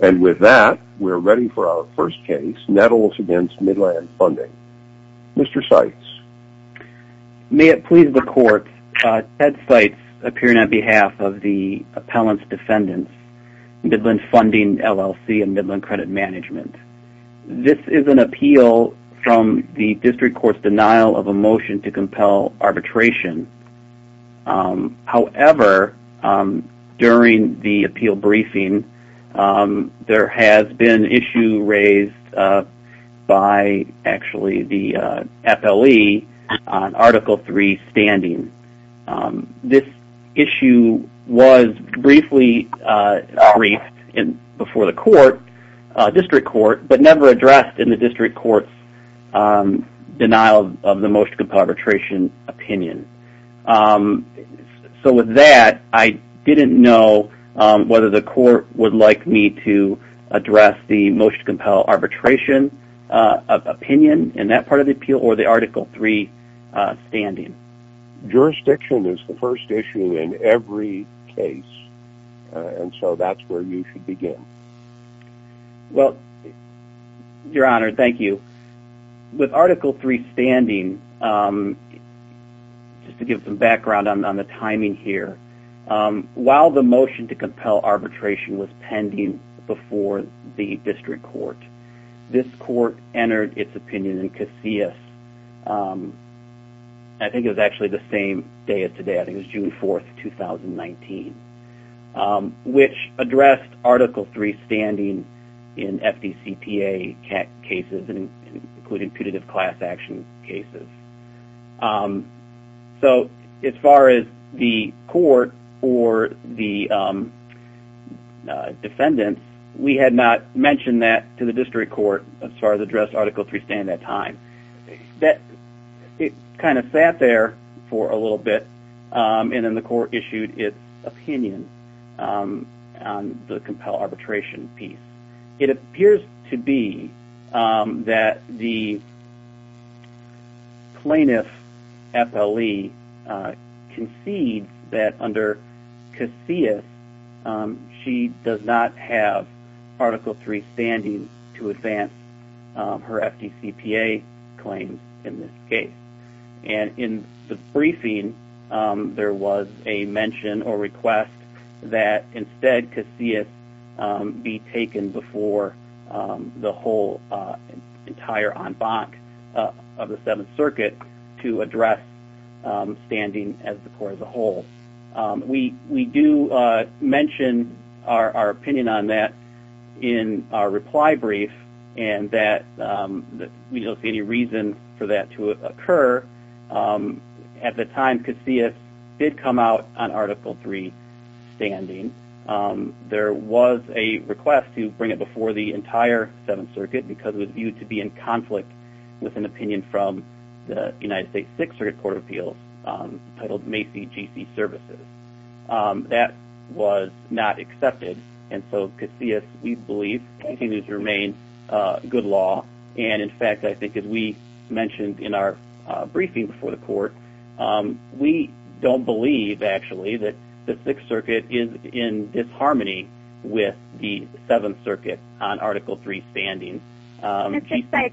With that, we are ready for our first case, Nettles v. Midland Funding. Mr. Seitz. May it please the court, Ted Seitz, appearing on behalf of the appellant's defendants, Midland Funding, LLC and Midland Credit Management. This is an appeal from the district court's denial of a motion to compel arbitration. However, during the appeal briefing, there has been an issue raised by the FLE on Article 3 standing. This issue was briefly briefed before the district court, but never addressed in the district court's denial of the motion to compel arbitration opinion. So with that, I didn't know whether the court would like me to address the motion to compel arbitration opinion in that part of the appeal or the Article 3 standing. Jurisdiction is the first issue in every case, and so that's where you should begin. Well, Your Honor, thank you. With Article 3 standing, just to give some background on the timing here, while the motion to compel arbitration was pending before the district court, this court entered its opinion in Casillas, I think it was actually the same day as today, I think it was June 4th, 2019, which addressed Article 3 standing in FDCPA cases, including putative class action cases. So as far as the court or the defendants, we had not mentioned that to the district court as far as addressed Article 3 standing at that time. It kind of sat there for a little bit, and then the court issued its opinion on the compel arbitration piece. It appears to be that the plaintiff, FLE, concedes that under Casillas, she does not have Article 3 standing to advance her FDCPA claim in this case. And in the briefing, there was a mention or request that instead Casillas be taken before the whole entire en banc of the Seventh Circuit to address standing as the court as a whole. We do mention our opinion on that in our reply brief, and that we don't see any reason for that to occur. At the time, Casillas did come out on Article 3 standing. There was a request to bring it before the entire Seventh Circuit because it was viewed to be in conflict with an opinion from the United States Sixth Circuit Court of Appeals, titled Macy GC Services. That was not accepted, and so Casillas, we believe, continues to remain good law. And in fact, I think as we mentioned in our briefing before the court, we don't believe, actually, that the Sixth Circuit is in disharmony with the Seventh Circuit on Article 3 standing. Could I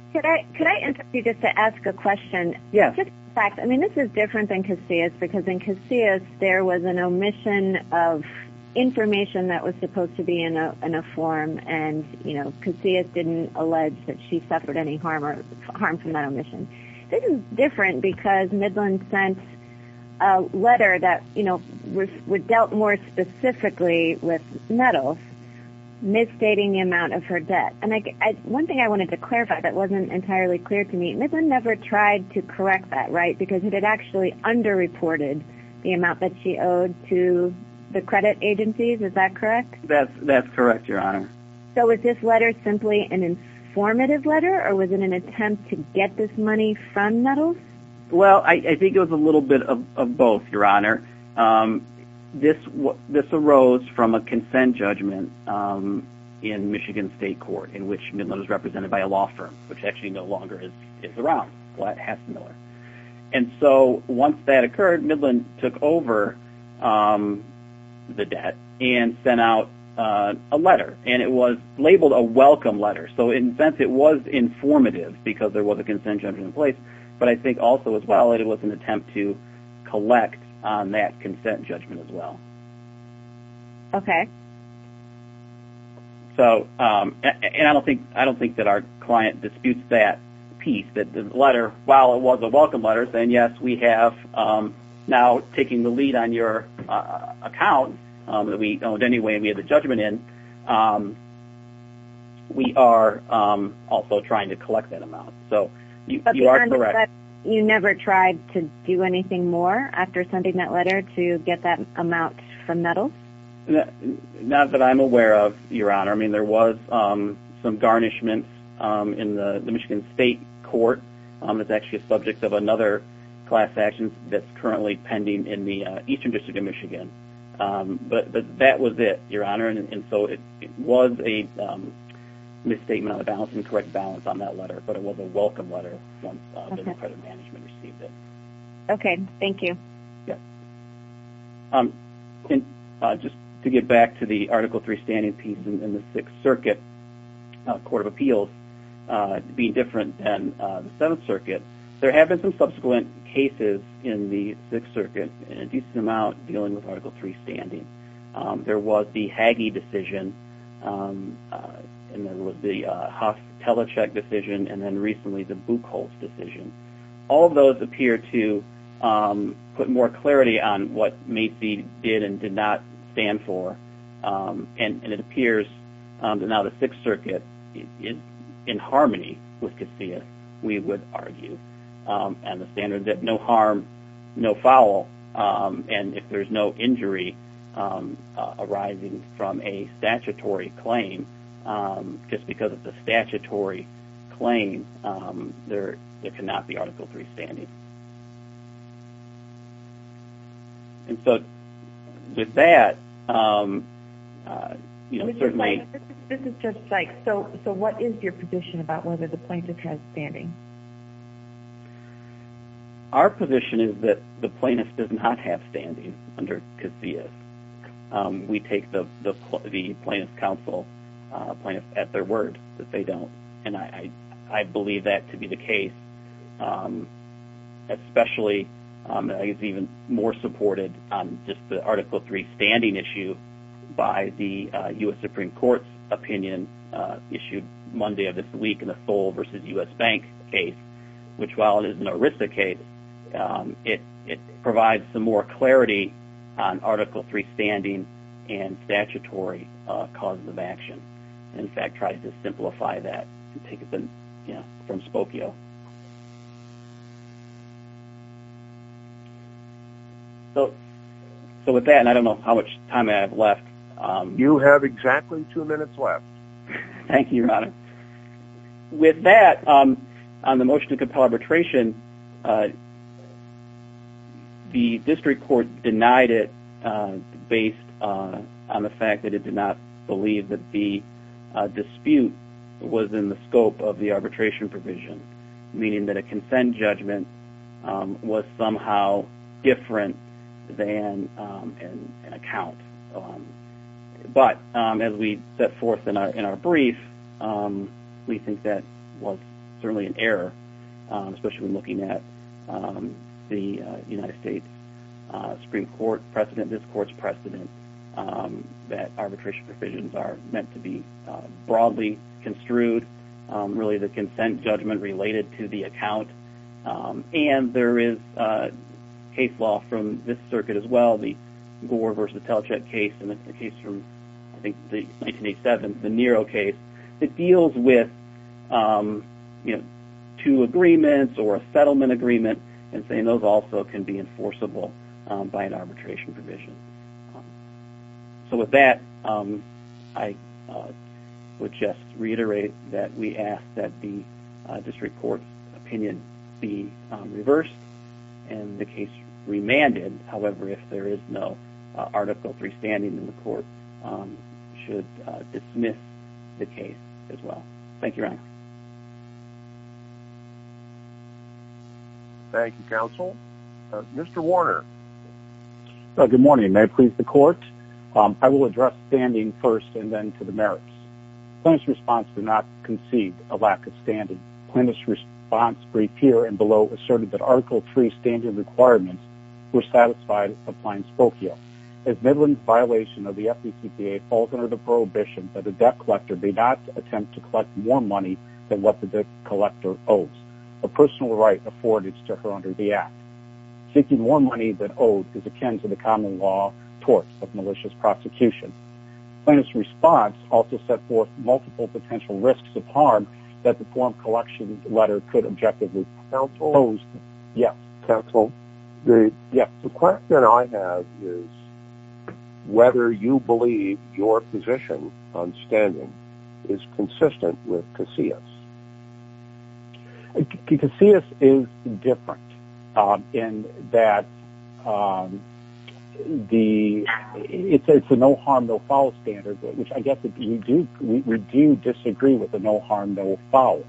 interrupt you just to ask a question? Yeah. I mean, this is different than Casillas, because in Casillas, there was an omission of information that was supposed to be in a form, and Casillas didn't allege that she suffered any harm from that omission. This is different because Midland sent a letter that dealt more specifically with Nettles, misstating the amount of her debt. And one thing I wanted to clarify that wasn't entirely clear to me, Midland never tried to correct that, right? Because it had actually underreported the amount that she owed to the credit agencies, is that correct? That's correct, Your Honor. So was this letter simply an informative letter, or was it an attempt to get this money from Nettles? Well, I think it was a little bit of both, Your Honor. This arose from a consent judgment in Michigan State Court, in which Midland was represented by a law firm, which actually no longer is around, Hess & Miller. And so once that occurred, Midland took over the debt and sent out a letter, and it was labeled a welcome letter. So in a sense, it was informative, because there was a consent judgment in place, but I think also, as well, it was an attempt to collect on that consent judgment as well. Okay. So, and I don't think that our client disputes that piece, that the letter, while it was a welcome letter saying, yes, we have now taken the lead on your account, that we owed any way we had the judgment in, we are also trying to collect that amount. So you are correct. But you never tried to do anything more after sending that letter to get that amount from Nettles? Not that I'm aware of, Your Honor. I mean, there was some garnishments in the Michigan State Court. It's actually a subject of another class action that's currently pending in the Eastern District of Michigan. But that was it, Your Honor. And so it was a misstatement on the balance, incorrect balance on that letter. But it was a welcome letter once business credit management received it. Okay. Thank you. Yes. Just to get back to the Article III standing piece in the Sixth Circuit Court of Appeals being different than the Seventh Circuit, there have been some subsequent cases in the Sixth Circuit in a decent amount dealing with Article III standing. There was the Haggie decision, and there was the Huff-Telichek decision, and then recently the Buchholz decision. All of those appear to put more clarity on what Macy did and did not stand for. And it appears that now the Sixth Circuit is in harmony with Casillas, we would argue, and the standard that no harm, no foul, and if there's no injury arising from a statutory claim, just because it's a statutory claim, there cannot be Article III standing. And so with that, you know, certainly... This is just like, so what is your position about whether the plaintiff has standing? Our position is that the plaintiff does not have standing under Casillas. We take the plaintiff's counsel, plaintiffs, at their word that they don't, and I believe that to be the case, especially, I guess, even more supported on just the Article III standing issue by the U.S. Supreme Court's opinion issued Monday of this week in the Seoul v. U.S. Bank case, which, while it is an ERISA case, it provides some more clarity on Article III standing and statutory causes of action. In fact, tried to simplify that and take it from Spokio. So with that, and I don't know how much time I have left. You have exactly two minutes left. Thank you, Your Honor. With that, on the motion to compel arbitration, the district court denied it based on the fact that it did not believe that the dispute was in the scope of the arbitration provision, meaning that a consent judgment was somehow different than an account. But as we set forth in our brief, we think that was certainly an error, especially when looking at the United States Supreme Court precedent, this court's precedent, that arbitration provisions are meant to be broadly construed, really the consent judgment related to the account. And there is case law from this circuit as well, the Gore v. Telecheck case and the case from, I think, 1987, the Nero case, that deals with, you know, two agreements or a settlement agreement and saying those also can be enforceable by an arbitration provision. So with that, I would just reiterate that we ask that the district court's opinion be reversed and the case remanded. However, if there is no Article III standing in the court, it should dismiss the case as well. Thank you, Your Honor. Thank you, counsel. Mr. Warner. Good morning. May I please the court? I will address standing first and then to the merits. Plaintiff's response did not concede a lack of standing. Plaintiff's response, briefed here and below, asserted that Article III standard requirements were satisfied applying Spokio. As Midland's violation of the FDTPA falls under the prohibition that a debt collector may not attempt to collect more money than what the debt collector owes, a personal right afforded to her under the Act. Seeking more money than owed is akin to the common law torts of malicious prosecution. Counsel? Yes. Counsel? Yes. The question I have is whether you believe your position on standing is consistent with Casillas. Casillas is different in that it's a no harm, no foul standard, which I guess we do disagree with the no harm, no foul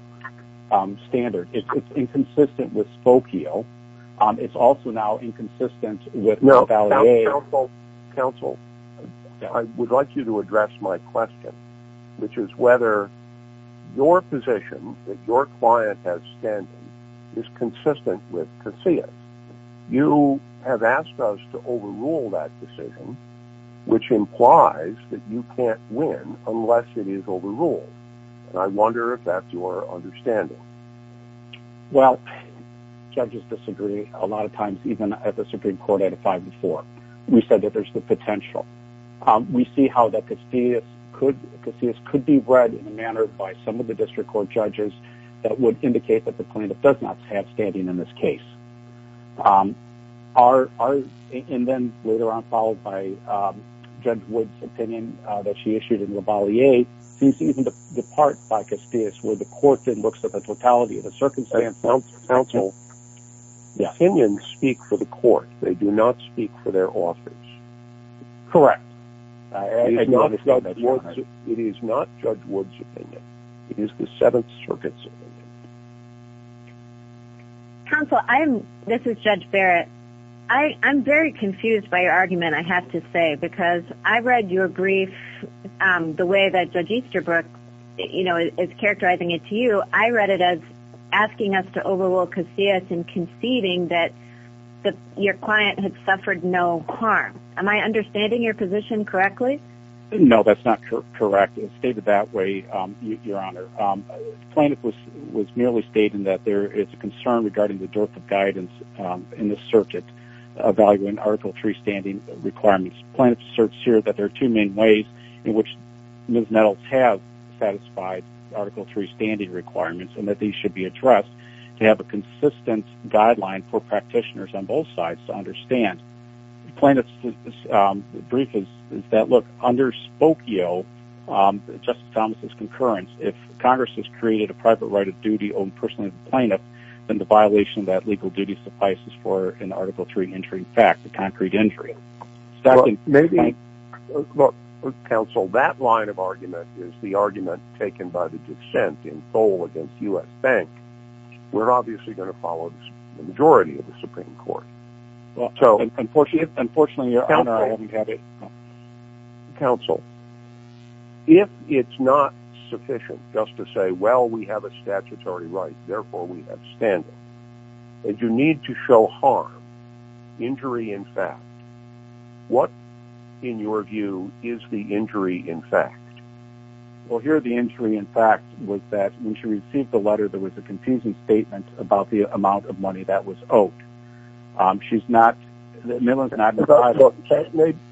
standard. It's inconsistent with Spokio. It's also now inconsistent with Vallejo. Counsel, I would like you to address my question, which is whether your position that your client has standing is consistent with Casillas. You have asked us to overrule that decision, which implies that you can't win unless it is overruled, and I wonder if that's your understanding. Well, judges disagree a lot of times, even at the Supreme Court at a five to four. We said that there's the potential. We see how that Casillas could be read in a manner by some of the district court judges that would indicate that the plaintiff does not have standing in this case. And then later on, followed by Judge Wood's opinion that she issued in Lavalier, sees even the part by Casillas where the court then looks at the totality of the circumstance. Counsel, the opinions speak for the court. They do not speak for their authors. Correct. It is not Judge Wood's opinion. It is the Seventh Circuit's opinion. Counsel, this is Judge Barrett. I'm very confused by your argument, I have to say, because I read your brief the way that Judge Easterbrook is characterizing it to you. I read it as asking us to overrule Casillas and conceding that your client had suffered no harm. Am I understanding your position correctly? No, that's not correct. I stated it that way, Your Honor. The plaintiff was merely stating that there is a concern regarding the dearth of guidance in the circuit evaluating Article III standing requirements. The plaintiff asserts here that there are two main ways in which Ms. Nettles has satisfied Article III standing requirements and that these should be addressed to have a consistent guideline for practitioners on both sides to understand. The plaintiff's brief is that, look, under Spokio, Justice Thomas' concurrence, if Congress has created a private right of duty owned personally by the plaintiff, then the violation of that legal duty suffices for an Article III entry fact, a concrete entry. Counsel, that line of argument is the argument taken by the dissent in Seoul against U.S. Bank. We're obviously going to follow the majority of the Supreme Court. Unfortunately, Your Honor, I haven't had it. Counsel, if it's not sufficient just to say, well, we have a statutory right, therefore we have standing, that you need to show harm, injury in fact, what, in your view, is the injury in fact? Well, here the injury in fact was that when she received the letter, there was a confusing statement about the amount of money that was owed. She's not, Millon's not decided.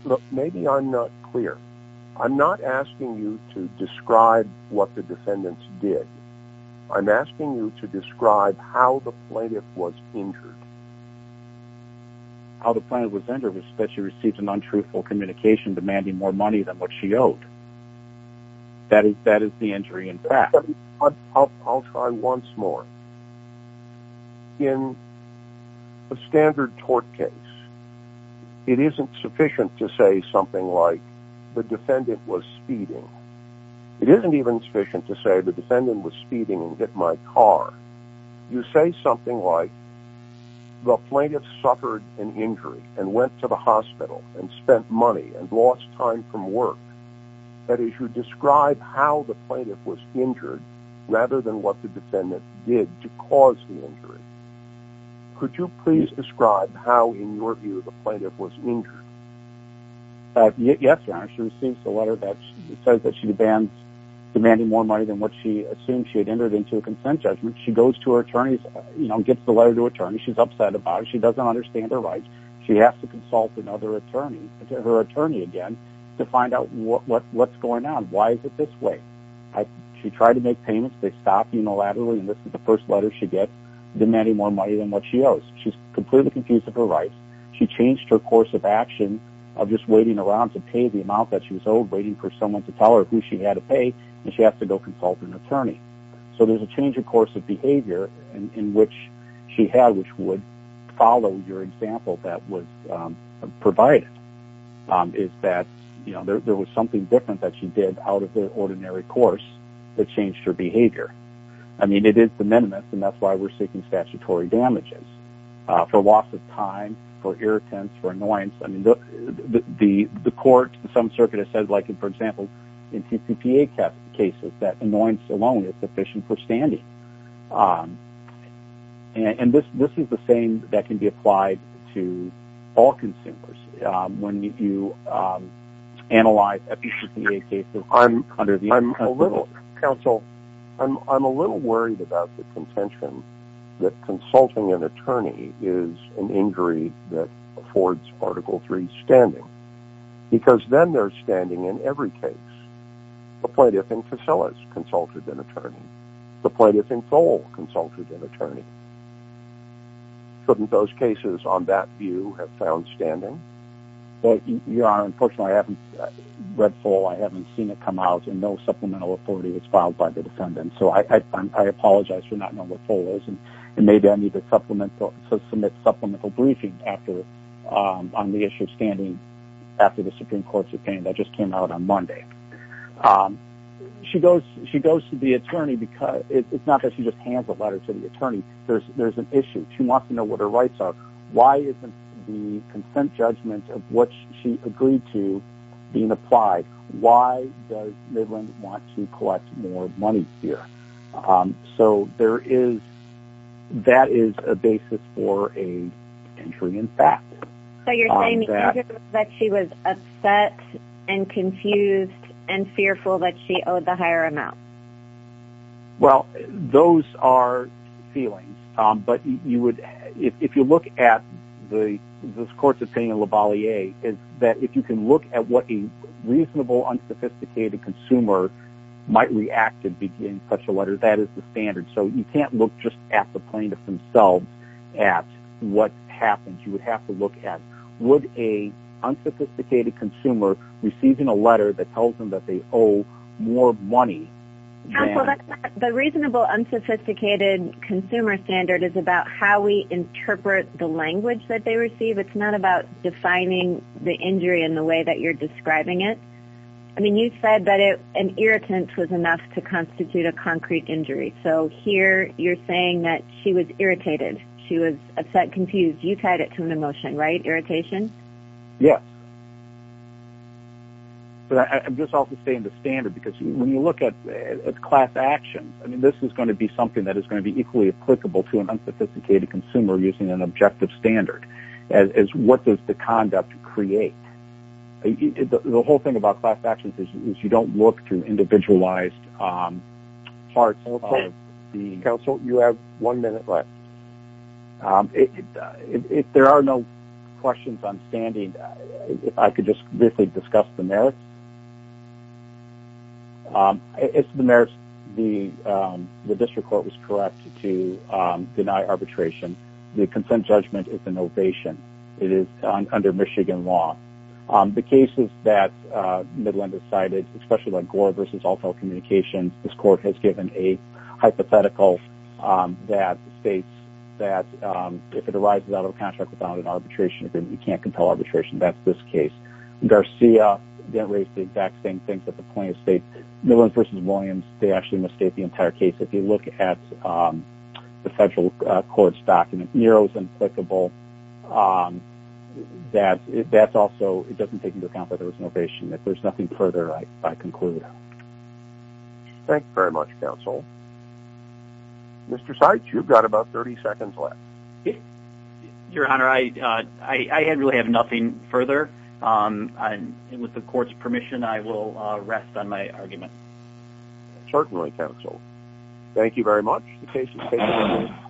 Look, maybe I'm not clear. I'm not asking you to describe what the defendants did. I'm asking you to describe how the plaintiff was injured. How the plaintiff was injured was that she received an untruthful communication demanding more money than what she owed. That is the injury in fact. I'll try once more. In a standard tort case, it isn't sufficient to say something like, the defendant was speeding. It isn't even sufficient to say the defendant was speeding and hit my car. You say something like, the plaintiff suffered an injury and went to the hospital and spent money and lost time from work. That is, you describe how the plaintiff was injured, rather than what the defendant did to cause the injury. Could you please describe how, in your view, the plaintiff was injured? Yes, Your Honor. She receives the letter that says that she demands, demanding more money than what she assumed she had entered into a consent judgment. She goes to her attorney's, you know, gets the letter to her attorney. She's upset about it. She doesn't understand her rights. She has to consult another attorney, her attorney again, to find out what's going on. Why is it this way? She tried to make payments. They stopped unilaterally, and this is the first letter she gets, demanding more money than what she owes. She's completely confused of her rights. She changed her course of action of just waiting around to pay the amount that she was owed, waiting for someone to tell her who she had to pay, and she has to go consult an attorney. So there's a change of course of behavior in which she had, which would follow your example that was provided, is that, you know, there was something different that she did out of the ordinary course that changed her behavior. I mean, it is the minimus, and that's why we're seeking statutory damages for loss of time, for irritants, for annoyance. I mean, the court, some circuit has said, like, for example, in CCPA cases, that annoyance alone is sufficient for standing. And this is the same that can be applied to all consumers. When you analyze a CCPA case. I'm a little, counsel, I'm a little worried about the contention that consulting an attorney is an injury that affords Article III standing, because then they're standing in every case. The plaintiff and facilities consulted an attorney. The plaintiff and FOLE consulted an attorney. Couldn't those cases on that view have found standing? Your Honor, unfortunately I haven't read FOLE. I haven't seen it come out, and no supplemental authority was filed by the defendant. So I apologize for not knowing what FOLE is, and maybe I need to submit supplemental briefing on the issue of standing after the Supreme Court's opinion that just came out on Monday. She goes to the attorney because, it's not that she just hands a letter to the attorney. There's an issue. She wants to know what her rights are. Why isn't the consent judgment of what she agreed to being applied? Why does Midland want to collect more money here? So there is, that is a basis for a injury in fact. So you're saying the injury was that she was upset and confused and fearful that she owed the higher amount. Well, those are feelings. But you would, if you look at the, this Court's opinion in Lavalier is that if you can look at what a reasonable, unsophisticated consumer might react to in such a letter, that is the standard. So you can't look just at the plaintiff themselves at what happened. You would have to look at would a unsophisticated consumer receiving a letter that tells them that they owe more money. The reasonable unsophisticated consumer standard is about how we interpret the language that they receive. It's not about defining the injury in the way that you're describing it. I mean you said that an irritant was enough to constitute a concrete injury. So here you're saying that she was irritated. She was upset, confused. You tied it to an emotion, right? Irritation? Yes. But I'm just also saying the standard because when you look at class actions, I mean this is going to be something that is going to be equally applicable to an unsophisticated consumer using an objective standard as what does the conduct create. The whole thing about class actions is you don't look through individualized parts. Counsel, you have one minute left. If there are no questions, I'm standing. If I could just briefly discuss the merits. As to the merits, the district court was correct to deny arbitration. The consent judgment is an ovation. It is under Michigan law. The cases that Midland has cited, especially like Gore v. Alltel Communications, this court has given a hypothetical that states that if it arises out of a contract without an arbitration agreement, you can't compel arbitration. That's this case. Garcia raised the exact same thing at the point of state. Midland v. Williams, they actually misstate the entire case. If you look at the federal court's document, Nero is implicable. That's also, it doesn't take into account that there was an ovation. If there's nothing further, I conclude. Thank you very much, counsel. Mr. Seitz, you've got about 30 seconds left. Your Honor, I really have nothing further. With the court's permission, I will rest on my argument. Certainly, counsel. Thank you very much.